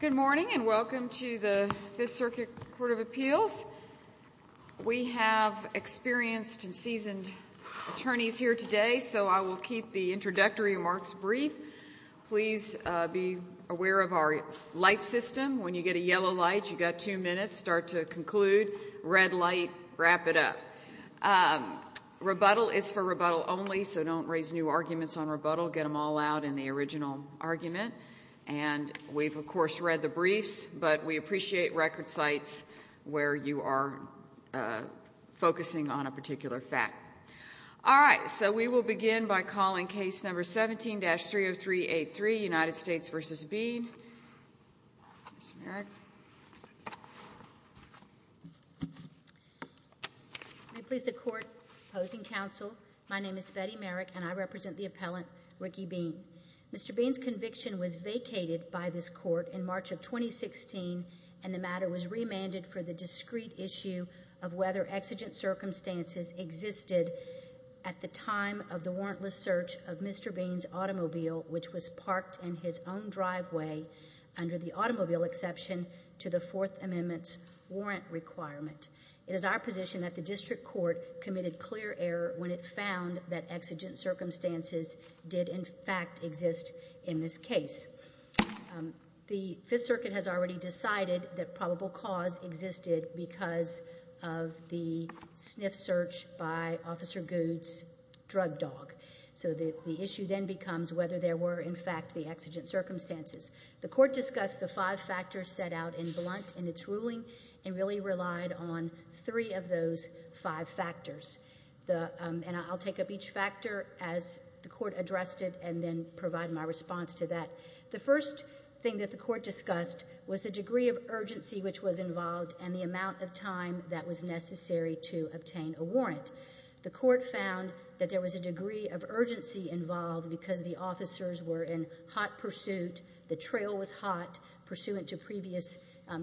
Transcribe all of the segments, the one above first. Good morning and welcome to the Fifth Circuit Court of Appeals. We have experienced and seasoned attorneys here today, so I will keep the introductory remarks brief. Please be aware of our light system. When you get a yellow light, you've got two minutes. Start to conclude. Red light, wrap it up. Rebuttal is for rebuttal only, so don't raise new arguments on rebuttal. Get them all out in the original argument. And we've, of course, read the briefs, but we appreciate record sites where you are focusing on a particular fact. All right, so we will begin by calling case number 17-30383, United States v. Beene. Ms. Merrick. May it please the Court. Opposing counsel. My name is Betty Merrick, and I represent the appellant, Rickey Beene. Mr. Beene's conviction was vacated by this Court in March of 2016, and the matter was remanded for the discrete issue of whether exigent circumstances existed at the time of the warrantless search of Mr. Beene's automobile, which was parked in his own driveway under the automobile exception to the Fourth Amendment's warrant requirement. It is our position that the district court committed clear error when it found that exigent circumstances did, in fact, exist in this case. The Fifth Circuit has already decided that probable cause existed because of the sniff search by Officer Goodes' drug dog. So the issue then becomes whether there were, in fact, the exigent circumstances. The Court discussed the five factors set out in blunt in its ruling and really relied on three of those five factors. And I'll take up each factor as the Court addressed it and then provide my response to that. The first thing that the Court discussed was the degree of urgency which was involved and the amount of time that was necessary to obtain a warrant. The Court found that there was a degree of urgency involved because the officers were in hot pursuit. The trail was hot pursuant to previous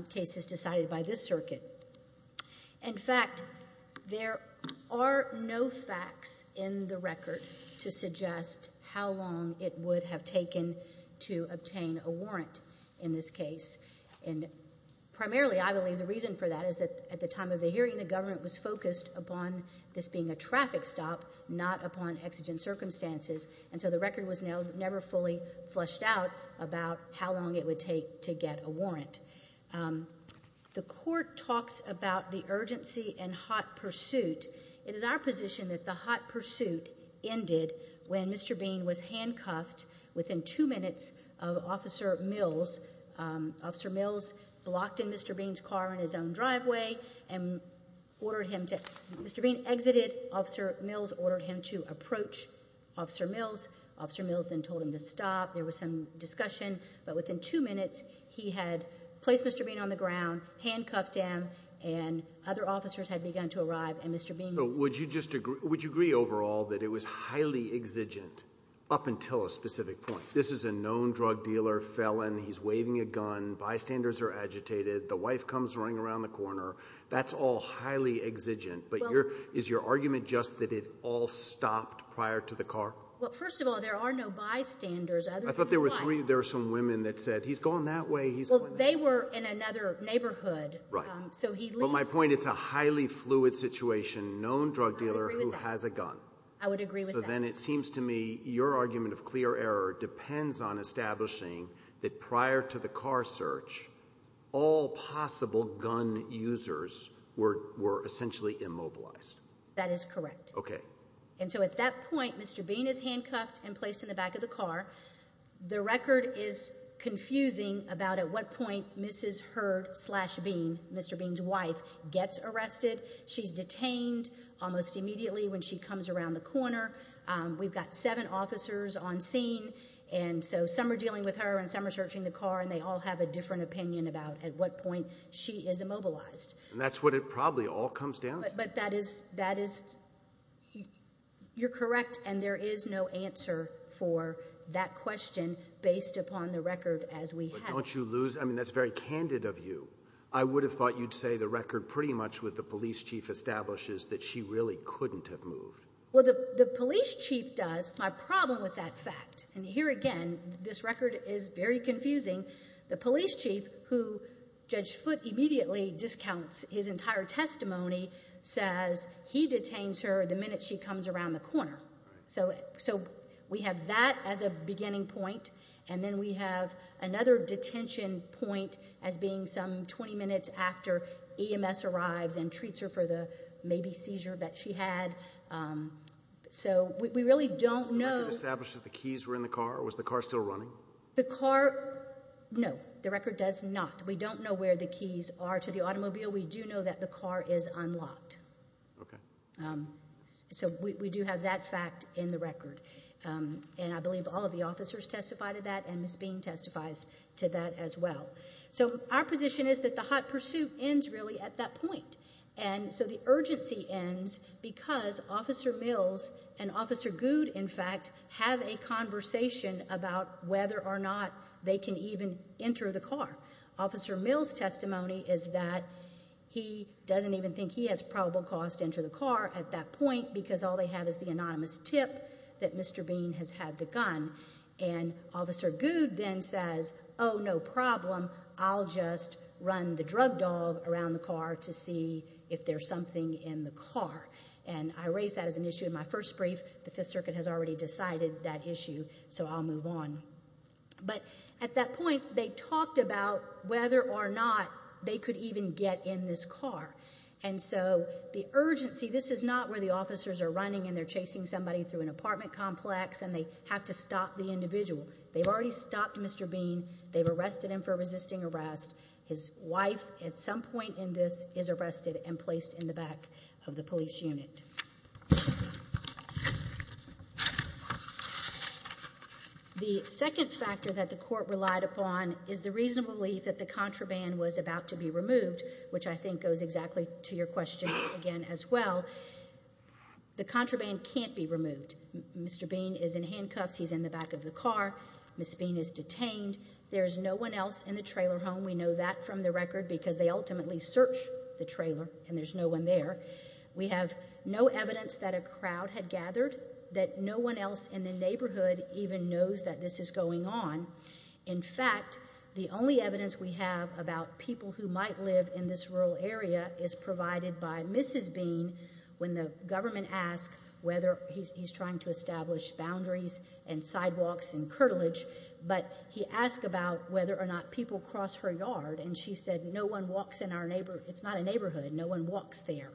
cases decided by this circuit. In fact, there are no facts in the record to suggest how long it would have taken to obtain a warrant in this case. And primarily, I believe, the reason for that is that at the time of the hearing, the government was focused upon this being a traffic stop, not upon exigent circumstances. And so the record was never fully fleshed out about how long it would take to get a warrant. The Court talks about the urgency and hot pursuit. It is our position that the hot pursuit ended when Mr. Bean was handcuffed within two minutes of Officer Mills. Officer Mills blocked in Mr. Bean's car in his own driveway and ordered him to—Mr. Bean exited. Officer Mills ordered him to approach Officer Mills. Officer Mills then told him to stop. There was some discussion, but within two minutes, he had placed Mr. Bean on the ground, handcuffed him, and other officers had begun to arrive, and Mr. Bean was— So would you just agree — would you agree overall that it was highly exigent up until a specific point? This is a known drug dealer felon. He's waving a gun. Bystanders are agitated. The wife comes running around the corner. That's all highly exigent. But your — is your argument just that it all stopped prior to the car? Well, first of all, there are no bystanders other than one. I thought there were three — there were some women that said, he's gone that way, he's gone that way. Well, they were in another neighborhood. Right. So he leaves— But my point, it's a highly fluid situation, known drug dealer who has a gun. I would agree with that. So then it seems to me your argument of clear error depends on establishing that prior to the car search, all possible gun users were essentially immobilized. That is correct. Okay. And so at that point, Mr. Bean is handcuffed and placed in the back of the car. The record is confusing about at what point Mrs. Hurd-slash-Bean, Mr. Bean's wife, gets arrested. She's detained almost immediately when she comes around the corner. We've got seven officers on scene. And so some are dealing with her and some are searching the car, and they all have a different opinion about at what point she is immobilized. And that's what it probably all comes down to. But that is—you're correct, and there is no answer for that question based upon the record as we have. But don't you lose—I mean, that's very candid of you. I would have thought you'd say the record pretty much with the police chief establishes that she really couldn't have moved. Well, the police chief does. My problem with that fact—and here again, this record is very confusing. The police chief, who Judge Foote immediately discounts his entire testimony, says he detains her the minute she comes around the corner. So we have that as a beginning point, and then we have another detention point as being some 20 minutes after EMS arrives and treats her for the maybe seizure that she had. So we really don't know— Was the record established that the keys were in the car, or was the car still running? The car—no, the record does not. We don't know where the keys are to the automobile. We do know that the car is unlocked. Okay. So we do have that fact in the record. And I believe all of the officers testify to that, and Ms. Bean testifies to that as well. So our position is that the hot pursuit ends really at that point. And so the urgency ends because Officer Mills and Officer Good, in fact, have a conversation about whether or not they can even enter the car. Officer Mills' testimony is that he doesn't even think he has probable cause to enter the car at that point because all they have is the anonymous tip that Mr. Bean has had the gun. And Officer Good then says, oh, no problem. I'll just run the drug dog around the car to see if there's something in the car. And I raise that as an issue in my first brief. The Fifth Circuit has already decided that issue, so I'll move on. But at that point, they talked about whether or not they could even get in this car. And so the urgency—this is not where the officers are running and they're chasing somebody through an apartment complex and they have to stop the individual. They've already stopped Mr. Bean. They've arrested him for resisting arrest. His wife at some point in this is arrested and placed in the back of the police unit. The second factor that the court relied upon is the reasonable belief that the contraband was about to be removed, which I think goes exactly to your question again as well. The contraband can't be removed. Mr. Bean is in handcuffs. He's in the back of the car. Ms. Bean is detained. There's no one else in the trailer home. We know that from the record because they ultimately search the trailer and there's no one there. We have no evidence that a crowd had gathered, that no one else in the neighborhood even knows that this is going on. In fact, the only evidence we have about people who might live in this rural area is provided by Mrs. Bean when the government asked whether he's trying to establish boundaries and sidewalks and curtilage, but he asked about whether or not people cross her yard and she said no one walks in our neighborhood. It's not a neighborhood. No one walks there.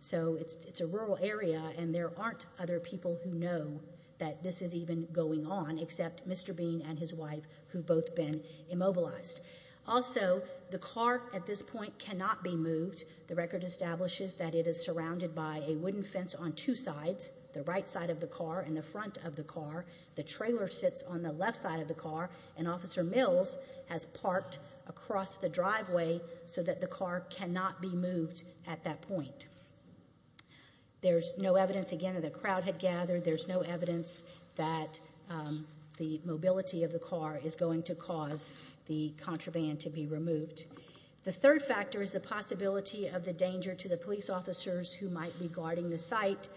So it's a rural area and there aren't other people who know that this is even going on except Mr. Bean and his wife who've both been immobilized. Also, the car at this point cannot be moved. The record establishes that it is surrounded by a wooden fence on two sides, the right side of the car and the front of the car. The trailer sits on the left side of the car and Officer Mills has parked across the driveway so that the car cannot be moved at that point. There's no evidence, again, that a crowd had gathered. There's no evidence that the mobility of the car is going to cause the contraband to be removed. The third factor is the possibility of the danger to the police officers who might be guarding the site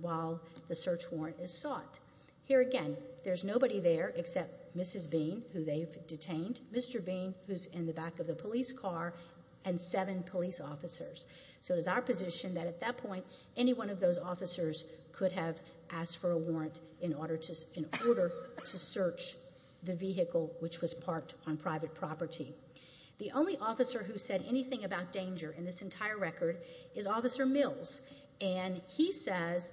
while the search warrant is sought. Here again, there's nobody there except Mrs. Bean, who they've detained, Mr. Bean, who's in the back of the police car, and seven police officers. So it is our position that at that point any one of those officers could have asked for a warrant in order to search the vehicle which was parked on private property. The only officer who said anything about danger in this entire record is Officer Mills, and he says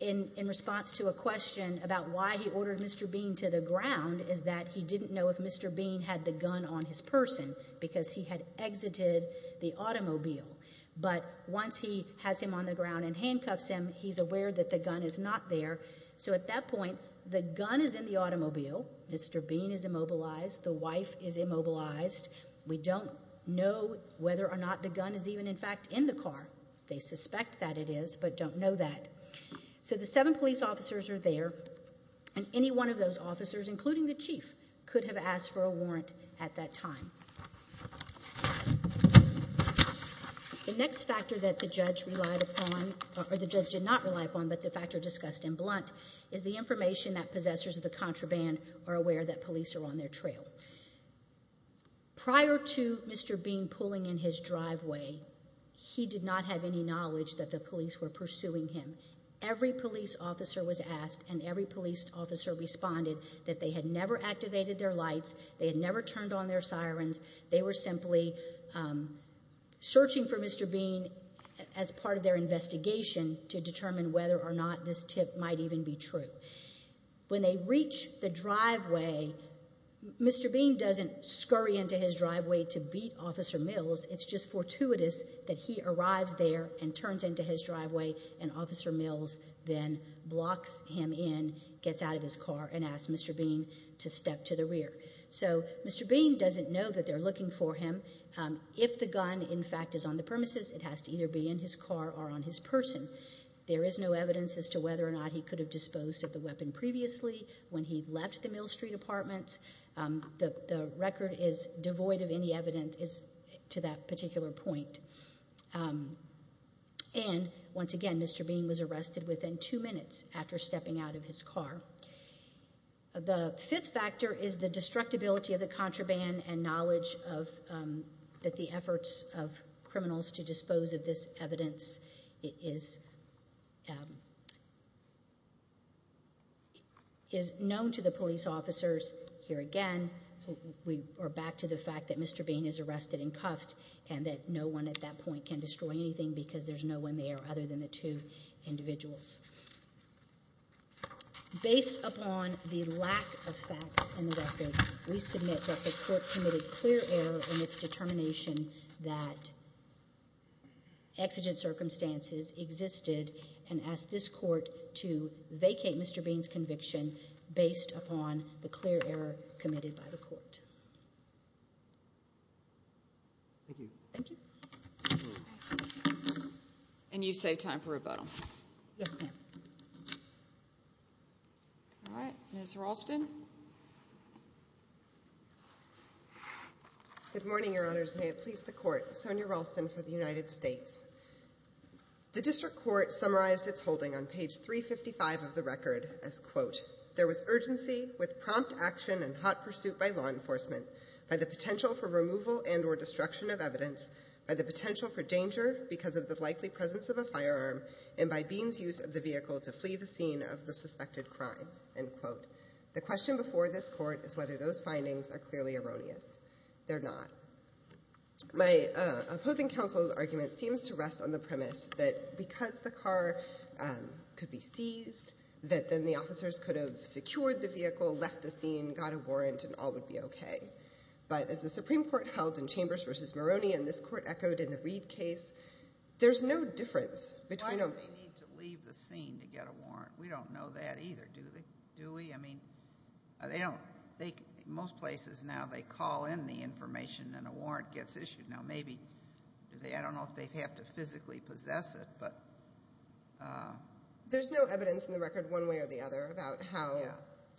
in response to a question about why he ordered Mr. Bean to the ground is that he didn't know if Mr. Bean had the gun on his person because he had exited the automobile. But once he has him on the ground and handcuffs him, he's aware that the gun is not there. So at that point, the gun is in the automobile. Mr. Bean is immobilized. The wife is immobilized. We don't know whether or not the gun is even, in fact, in the car. They suspect that it is but don't know that. So the seven police officers are there, and any one of those officers, including the chief, could have asked for a warrant at that time. The next factor that the judge relied upon, or the judge did not rely upon but the factor discussed in blunt, is the information that possessors of the contraband are aware that police are on their trail. Prior to Mr. Bean pulling in his driveway, he did not have any knowledge that the police were pursuing him. Every police officer was asked and every police officer responded that they had never activated their lights. They had never turned on their sirens. They were simply searching for Mr. Bean as part of their investigation to determine whether or not this tip might even be true. When they reach the driveway, Mr. Bean doesn't scurry into his driveway to beat Officer Mills. It's just fortuitous that he arrives there and turns into his driveway and Officer Mills then blocks him in, gets out of his car, and asks Mr. Bean to step to the rear. So Mr. Bean doesn't know that they're looking for him. If the gun, in fact, is on the premises, it has to either be in his car or on his person. There is no evidence as to whether or not he could have disposed of the weapon previously when he left the Mill Street apartment. The record is devoid of any evidence to that particular point. And, once again, Mr. Bean was arrested within two minutes after stepping out of his car. The fifth factor is the destructibility of the contraband and knowledge that the efforts of criminals to dispose of this evidence is known to the police officers. Here again, we are back to the fact that Mr. Bean is arrested and cuffed and that no one at that point can destroy anything because there's no one there other than the two individuals. Based upon the lack of facts in the record, we submit that the court committed clear error in its determination that exigent circumstances existed and ask this court to vacate Mr. Bean's conviction based upon the clear error committed by the court. Thank you. Thank you. And you save time for rebuttal. Yes, ma'am. All right. Ms. Ralston? Good morning, Your Honors. May it please the court. Sonia Ralston for the United States. The district court summarized its holding on page 355 of the record as, quote, there was urgency with prompt action and hot pursuit by law enforcement by the potential for removal and or destruction of evidence, by the potential for danger because of the likely presence of a firearm, and by Bean's use of the vehicle to flee the scene of the suspected crime, end quote. The question before this court is whether those findings are clearly erroneous. They're not. My opposing counsel's argument seems to rest on the premise that because the car could be seized, that then the officers could have secured the vehicle, left the scene, got a warrant, and all would be okay. But as the Supreme Court held in Chambers v. Maroney and this court echoed in the Reed case, there's no difference between them. Why did they need to leave the scene to get a warrant? We don't know that either, do we? I mean, most places now they call in the information and a warrant gets issued. Now, maybe, I don't know if they have to physically possess it. There's no evidence in the record one way or the other about how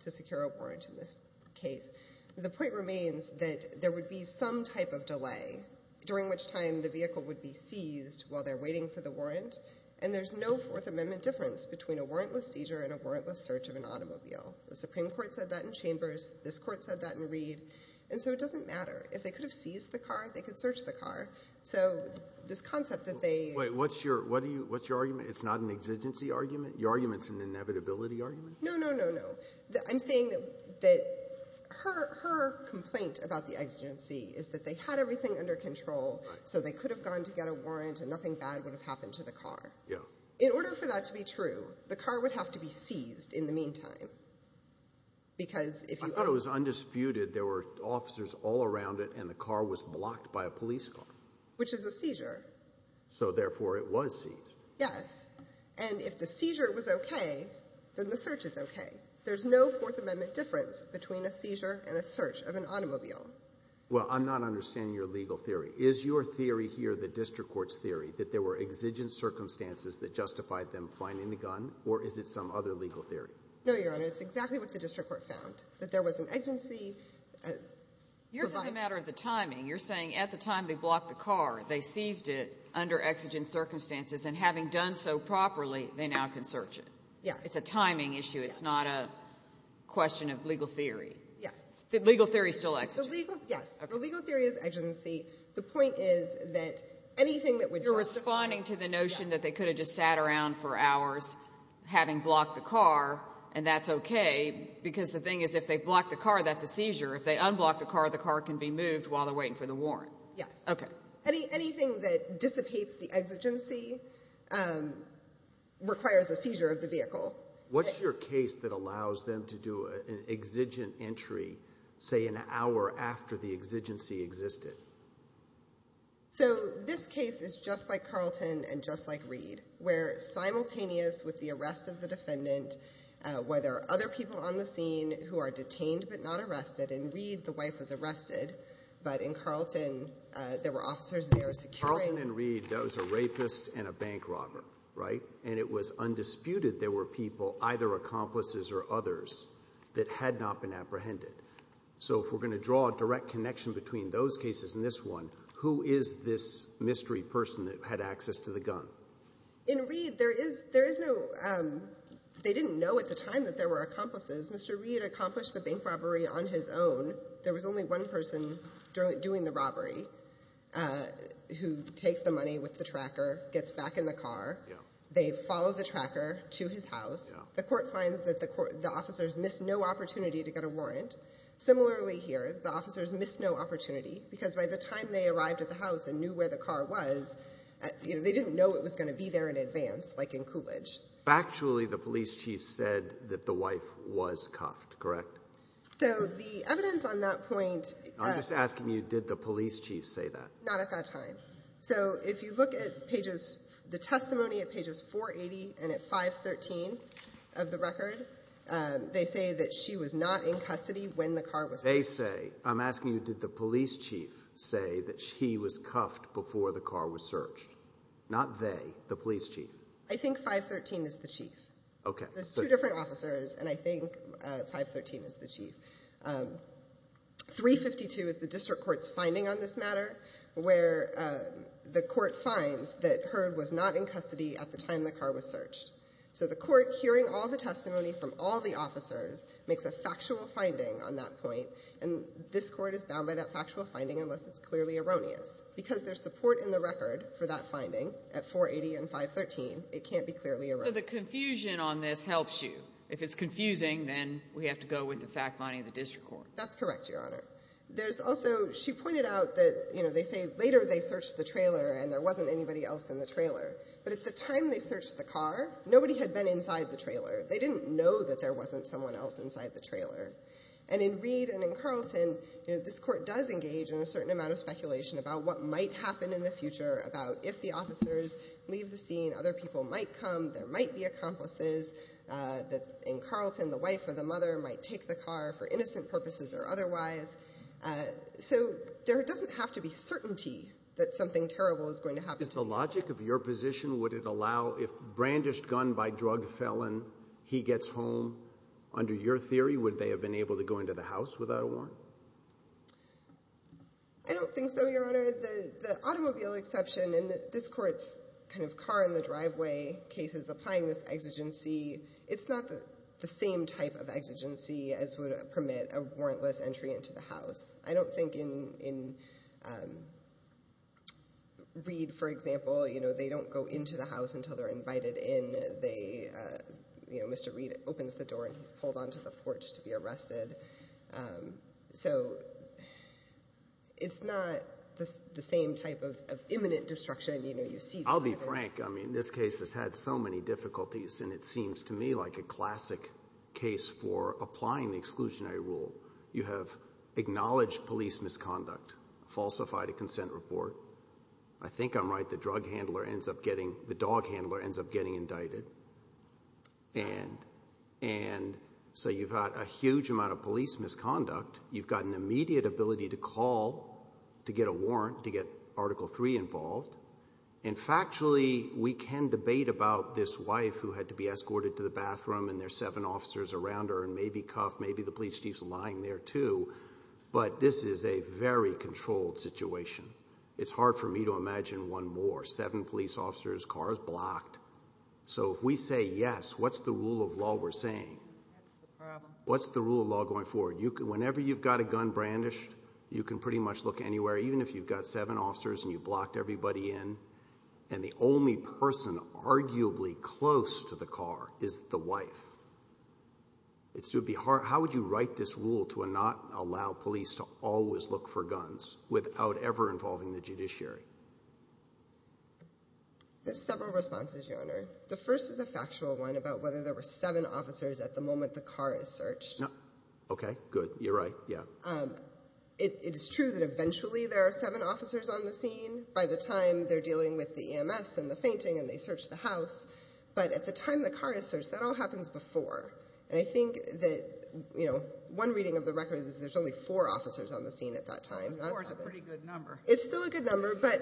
to secure a warrant in this case. The point remains that there would be some type of delay, during which time the vehicle would be seized while they're waiting for the warrant, and there's no Fourth Amendment difference between a warrantless seizure and a warrantless search of an automobile. The Supreme Court said that in Chambers. This court said that in Reed. And so it doesn't matter. If they could have seized the car, they could search the car. So this concept that they ---- Wait. What's your argument? It's not an exigency argument? Your argument's an inevitability argument? No, no, no, no. I'm saying that her complaint about the exigency is that they had everything under control, so they could have gone to get a warrant and nothing bad would have happened to the car. Yeah. In order for that to be true, the car would have to be seized in the meantime because if you ---- I thought it was undisputed there were officers all around it and the car was blocked by a police car. Which is a seizure. So, therefore, it was seized. Yes. And if the seizure was okay, then the search is okay. There's no Fourth Amendment difference between a seizure and a search of an automobile. Well, I'm not understanding your legal theory. Is your theory here the district court's theory that there were exigent circumstances that justified them finding the gun, or is it some other legal theory? No, Your Honor. It's exactly what the district court found, that there was an exigency ---- Yours is a matter of the timing. You're saying at the time they blocked the car, they seized it under exigent circumstances, and having done so properly, they now can search it. Yes. It's a timing issue. It's not a question of legal theory. Yes. The legal theory is still exigent. The legal ---- Yes. The legal theory is exigency. The point is that anything that would ---- You're responding to the notion that they could have just sat around for hours having blocked the car, and that's okay, because the thing is, if they block the car, that's a seizure. If they unblock the car, the car can be moved while they're waiting for the warrant. Yes. Okay. Anything that dissipates the exigency requires a seizure of the vehicle. What's your case that allows them to do an exigent entry, say, an hour after the exigency existed? This case is just like Carlton and just like Reed, where simultaneous with the arrest of the defendant, where there are other people on the scene who are detained but not arrested. In Reed, the wife was arrested, but in Carlton, there were officers there securing ---- Carlton and Reed, that was a rapist and a bank robber, right? And it was undisputed there were people, either accomplices or others, that had not been apprehended. So if we're going to draw a direct connection between those cases and this one, who is this mystery person that had access to the gun? In Reed, there is no ---- They didn't know at the time that there were accomplices. Mr. Reed accomplished the bank robbery on his own. There was only one person doing the robbery who takes the money with the tracker, gets back in the car. They follow the tracker to his house. The court finds that the officers missed no opportunity to get a warrant. Similarly here, the officers missed no opportunity because by the time they arrived at the house and knew where the car was, they didn't know it was going to be there in advance, like in Coolidge. Actually, the police chief said that the wife was cuffed, correct? So the evidence on that point ---- I'm just asking you, did the police chief say that? Not at that time. No. So if you look at the testimony at pages 480 and at 513 of the record, they say that she was not in custody when the car was searched. They say. I'm asking you, did the police chief say that she was cuffed before the car was searched? Not they, the police chief. I think 513 is the chief. Okay. There's two different officers, and I think 513 is the chief. 352 is the district court's finding on this matter, where the court finds that Heard was not in custody at the time the car was searched. So the court, hearing all the testimony from all the officers, makes a factual finding on that point, and this court is bound by that factual finding unless it's clearly erroneous. Because there's support in the record for that finding at 480 and 513, it can't be clearly erroneous. So the confusion on this helps you. If it's confusing, then we have to go with the fact finding of the district court. That's correct, Your Honor. There's also, she pointed out that, you know, they say later they searched the trailer and there wasn't anybody else in the trailer. But at the time they searched the car, nobody had been inside the trailer. They didn't know that there wasn't someone else inside the trailer. And in Reed and in Carlton, you know, this court does engage in a certain amount of speculation about what might happen in the future about if the officers leave the scene, other people might come, there might be accomplices. In Carlton, the wife or the mother might take the car for innocent purposes or otherwise. So there doesn't have to be certainty that something terrible is going to happen. Is the logic of your position, would it allow if brandished gun by drug felon, he gets home? Under your theory, would they have been able to go into the house without a warrant? I don't think so, Your Honor. Your Honor, the automobile exception in this court's kind of car in the driveway case is applying this exigency. It's not the same type of exigency as would permit a warrantless entry into the house. I don't think in Reed, for example, you know, they don't go into the house until they're invited in. They, you know, Mr. Reed opens the door and he's pulled onto the porch to be arrested. So it's not the same type of imminent destruction. I'll be frank. I mean, this case has had so many difficulties, and it seems to me like a classic case for applying the exclusionary rule. You have acknowledged police misconduct, falsified a consent report. I think I'm right. The drug handler ends up getting – the dog handler ends up getting indicted. And so you've got a huge amount of police misconduct. You've got an immediate ability to call to get a warrant, to get Article III involved. And factually, we can debate about this wife who had to be escorted to the bathroom, and there's seven officers around her and maybe cuffed. Maybe the police chief's lying there too. But this is a very controlled situation. It's hard for me to imagine one more, seven police officers, cars blocked. So if we say yes, what's the rule of law we're saying? That's the problem. What's the rule of law going forward? Whenever you've got a gun brandished, you can pretty much look anywhere, even if you've got seven officers and you've blocked everybody in. And the only person arguably close to the car is the wife. It would be hard – how would you write this rule to not allow police to always look for guns without ever involving the judiciary? There's several responses, Your Honor. The first is a factual one about whether there were seven officers at the moment the car is searched. Okay, good. You're right. Yeah. It's true that eventually there are seven officers on the scene by the time they're dealing with the EMS and the fainting and they search the house. But at the time the car is searched, that all happens before. And I think that one reading of the record is there's only four officers on the scene at that time. Four is a pretty good number. It's still a good number, but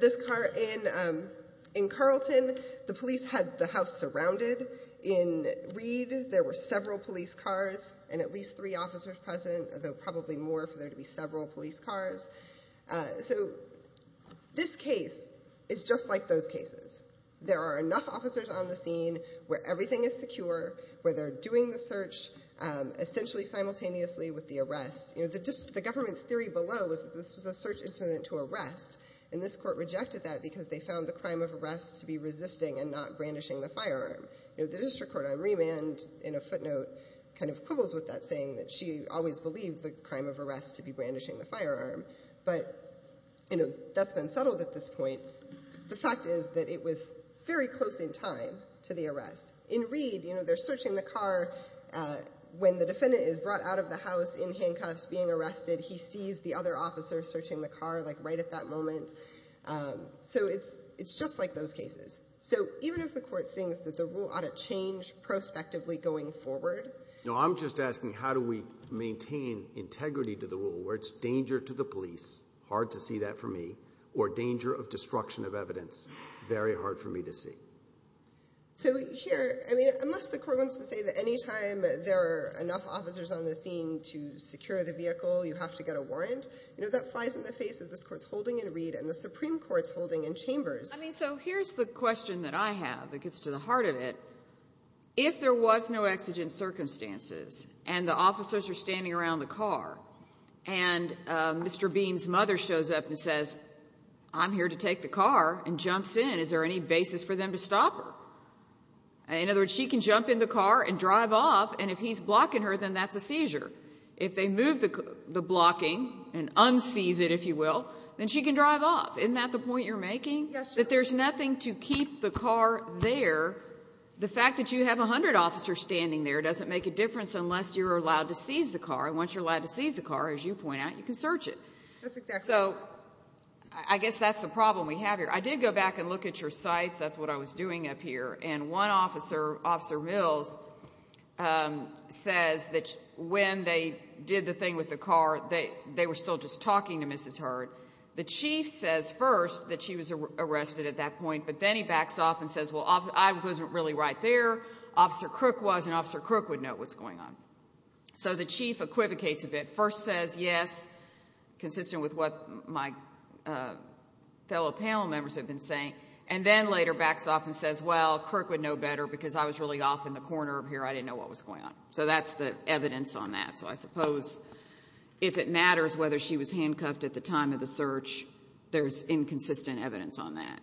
this car – in Carlton, the police had the house surrounded. In Reed, there were several police cars and at least three officers present, although probably more for there to be several police cars. So this case is just like those cases. There are enough officers on the scene where everything is secure, where they're doing the search essentially simultaneously with the arrest. The government's theory below was that this was a search incident to arrest, and this court rejected that because they found the crime of arrest to be resisting and not brandishing the firearm. The district court on remand in a footnote kind of quibbles with that, saying that she always believed the crime of arrest to be brandishing the firearm. But that's been settled at this point. The fact is that it was very close in time to the arrest. In Reed, they're searching the car. When the defendant is brought out of the house in handcuffs being arrested, he sees the other officer searching the car right at that moment. So it's just like those cases. So even if the court thinks that the rule ought to change prospectively going forward— No, I'm just asking how do we maintain integrity to the rule where it's danger to the police, hard to see that for me, or danger of destruction of evidence, very hard for me to see. So here, I mean, unless the court wants to say that any time there are enough officers on the scene to secure the vehicle, you have to get a warrant, you know, that flies in the face of this court's holding in Reed and the Supreme Court's holding in Chambers. I mean, so here's the question that I have that gets to the heart of it. If there was no exigent circumstances, and the officers are standing around the car, and Mr. Beam's mother shows up and says, I'm here to take the car, and jumps in, is there any basis for them to stop her? In other words, she can jump in the car and drive off, and if he's blocking her, then that's a seizure. If they move the blocking and unseize it, if you will, then she can drive off. Isn't that the point you're making? Yes, Your Honor. That there's nothing to keep the car there. The fact that you have 100 officers standing there doesn't make a difference unless you're allowed to seize the car. And once you're allowed to seize the car, as you point out, you can search it. That's exactly right. So I guess that's the problem we have here. I did go back and look at your sites. That's what I was doing up here. And one officer, Officer Mills, says that when they did the thing with the car, they were still just talking to Mrs. Hurd. The chief says first that she was arrested at that point, but then he backs off and says, well, I wasn't really right there, Officer Crook was, and Officer Crook would know what's going on. So the chief equivocates a bit. First says yes, consistent with what my fellow panel members have been saying, and then later backs off and says, well, Crook would know better because I was really off in the corner up here. I didn't know what was going on. So that's the evidence on that. So I suppose if it matters whether she was handcuffed at the time of the search, there's inconsistent evidence on that.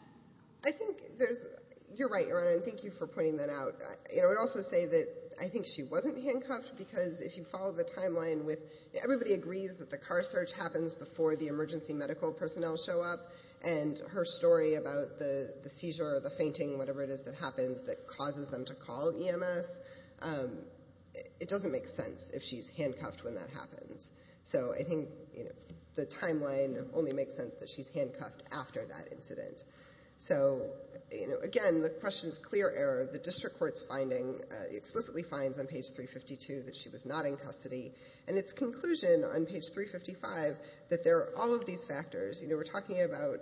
I think there's – you're right, Your Honor, and thank you for pointing that out. I would also say that I think she wasn't handcuffed because if you follow the timeline with – everybody agrees that the car search happens before the emergency medical personnel show up, and her story about the seizure or the fainting, whatever it is that happens that causes them to call EMS, it doesn't make sense if she's handcuffed when that happens. So I think the timeline only makes sense that she's handcuffed after that incident. So, again, the question is clear error. The district court's finding explicitly finds on page 352 that she was not in custody, and its conclusion on page 355 that there are all of these factors – we're talking about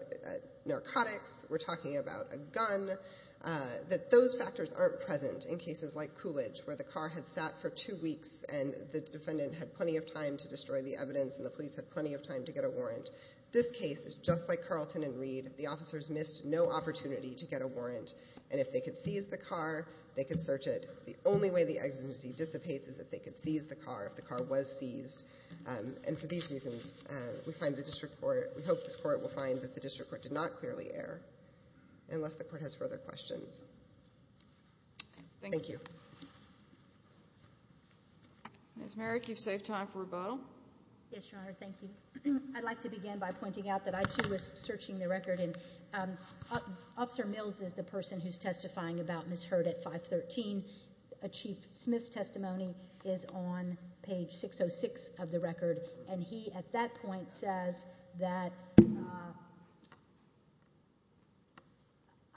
narcotics, we're talking about a gun – that those factors aren't present in cases like Coolidge where the car had sat for two weeks and the defendant had plenty of time to destroy the evidence and the police had plenty of time to get a warrant. This case is just like Carlton and Reed. The officers missed no opportunity to get a warrant, and if they could seize the car, they could search it. The only way the exigency dissipates is if they could seize the car, if the car was seized. And for these reasons, we hope this court will find that the district court did not clearly err, unless the court has further questions. Thank you. Ms. Merrick, you've saved time for rebuttal. Yes, Your Honor. Thank you. I'd like to begin by pointing out that I, too, was searching the record, and Officer Mills is the person who's testifying about Ms. Hurd at 513. A Chief Smith's testimony is on page 606 of the record, and he, at that point, says that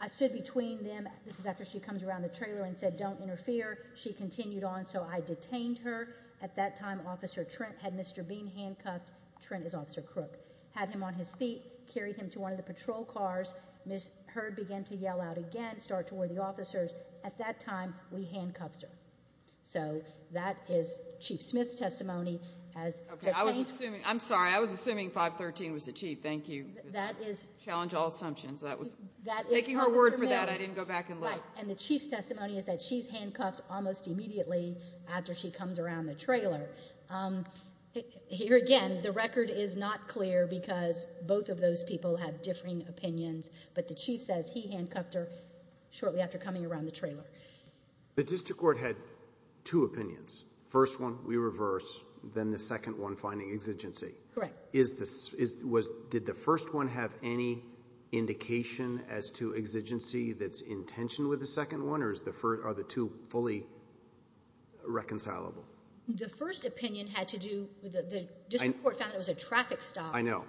I stood between them – this is after she comes around the trailer and said, don't interfere. She continued on, so I detained her. At that time, Officer Trent had Mr. Bean handcuffed. Trent is Officer Crook. Had him on his feet, carried him to one of the patrol cars. Ms. Hurd began to yell out again, start toward the officers. At that time, we handcuffed her. So that is Chief Smith's testimony. I'm sorry. I was assuming 513 was the Chief. Thank you. Challenge all assumptions. I was taking her word for that. I didn't go back in late. And the Chief's testimony is that she's handcuffed almost immediately after she comes around the trailer. Here again, the record is not clear because both of those people have differing opinions, but the Chief says he handcuffed her shortly after coming around the trailer. The district court had two opinions. First one, we reverse, then the second one, finding exigency. Correct. Did the first one have any indication as to exigency that's in tension with the second one, or are the two fully reconcilable? The first opinion had to do with the district court found it was a traffic stop. I know.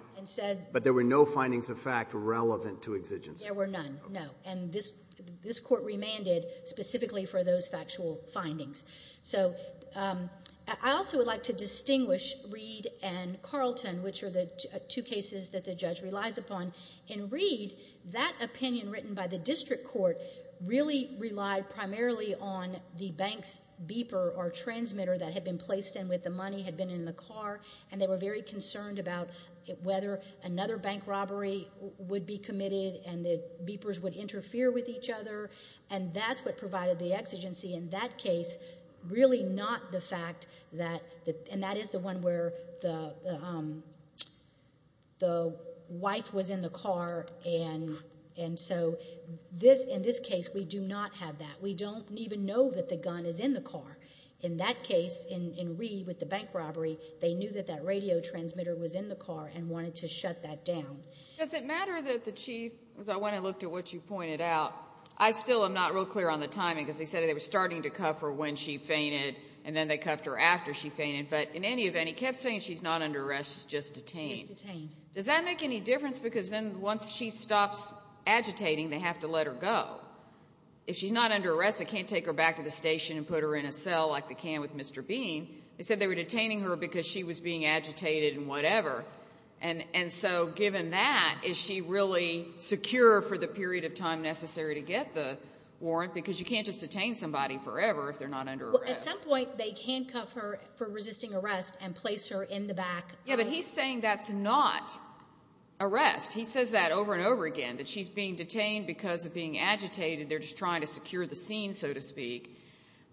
But there were no findings of fact relevant to exigency. There were none, no. And this court remanded specifically for those factual findings. So I also would like to distinguish Reed and Carlton, which are the two cases that the judge relies upon. In Reed, that opinion written by the district court really relied primarily on the bank's beeper or transmitter that had been placed in with the money, had been in the car, and they were very concerned about whether another bank robbery would be committed and the beepers would interfere with each other. And that's what provided the exigency in that case, really not the fact that, and that is the one where the wife was in the car, and so in this case we do not have that. We don't even know that the gun is in the car. In that case, in Reed with the bank robbery, they knew that that radio transmitter was in the car and wanted to shut that down. Does it matter that the chief, as I went and looked at what you pointed out, I still am not real clear on the timing because they said they were starting to cuff her when she fainted and then they cuffed her after she fainted, but in any event, he kept saying she's not under arrest, she's just detained. She's detained. Does that make any difference? Because then once she stops agitating, they have to let her go. If she's not under arrest, they can't take her back to the station and put her in a cell like they can with Mr. Bean. They said they were detaining her because she was being agitated and whatever, and so given that, is she really secure for the period of time necessary to get the warrant? Because you can't just detain somebody forever if they're not under arrest. Well, at some point they handcuff her for resisting arrest and place her in the back. Yeah, but he's saying that's not arrest. He says that over and over again, that she's being detained because of being agitated. They're just trying to secure the scene, so to speak,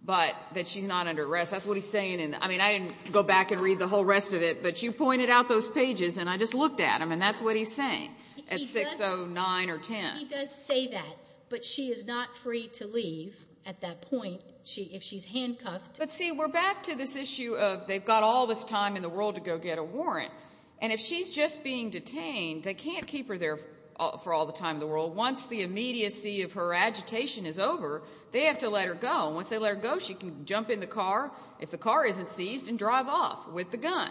but that she's not under arrest. That's what he's saying, and, I mean, I didn't go back and read the whole rest of it, but you pointed out those pages, and I just looked at them, and that's what he's saying at 6, 0, 9, or 10. He does say that, but she is not free to leave at that point if she's handcuffed. But, see, we're back to this issue of they've got all this time in the world to go get a warrant, and if she's just being detained, they can't keep her there for all the time in the world. Once the immediacy of her agitation is over, they have to let her go. Once they let her go, she can jump in the car, if the car isn't seized, and drive off with the gun.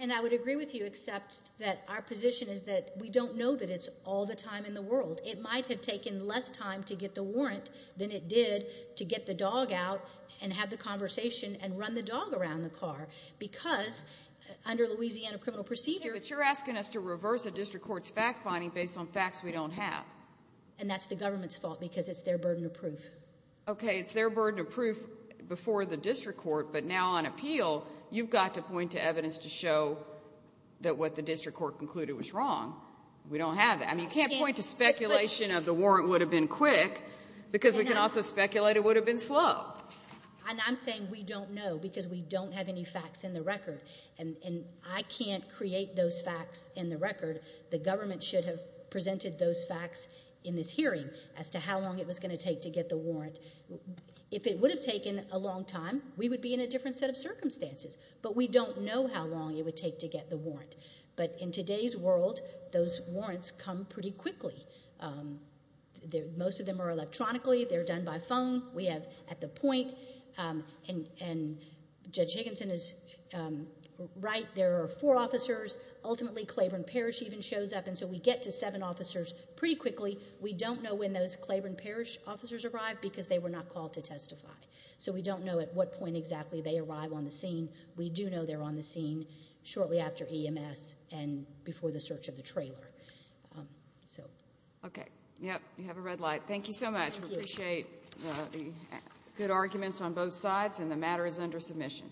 And I would agree with you except that our position is that we don't know that it's all the time in the world. It might have taken less time to get the warrant than it did to get the dog out and have the conversation and run the dog around the car because under Louisiana criminal procedure. But you're asking us to reverse a district court's fact-finding based on facts we don't have. And that's the government's fault because it's their burden of proof. Okay, it's their burden of proof before the district court, but now on appeal, you've got to point to evidence to show that what the district court concluded was wrong. We don't have that. I mean, you can't point to speculation of the warrant would have been quick because we can also speculate it would have been slow. And I'm saying we don't know because we don't have any facts in the record. And I can't create those facts in the record. The government should have presented those facts in this hearing as to how long it was going to take to get the warrant. If it would have taken a long time, we would be in a different set of circumstances. But we don't know how long it would take to get the warrant. But in today's world, those warrants come pretty quickly. Most of them are electronically. They're done by phone. We have at the point, and Judge Higginson is right, there are four officers. Ultimately, Claiborne Parish even shows up, and so we get to seven officers pretty quickly. We don't know when those Claiborne Parish officers arrived because they were not called to testify. So we don't know at what point exactly they arrive on the scene. We do know they're on the scene shortly after EMS and before the search of the trailer. Okay. Yep, you have a red light. Thank you so much. We appreciate the good arguments on both sides, and the matter is under submission.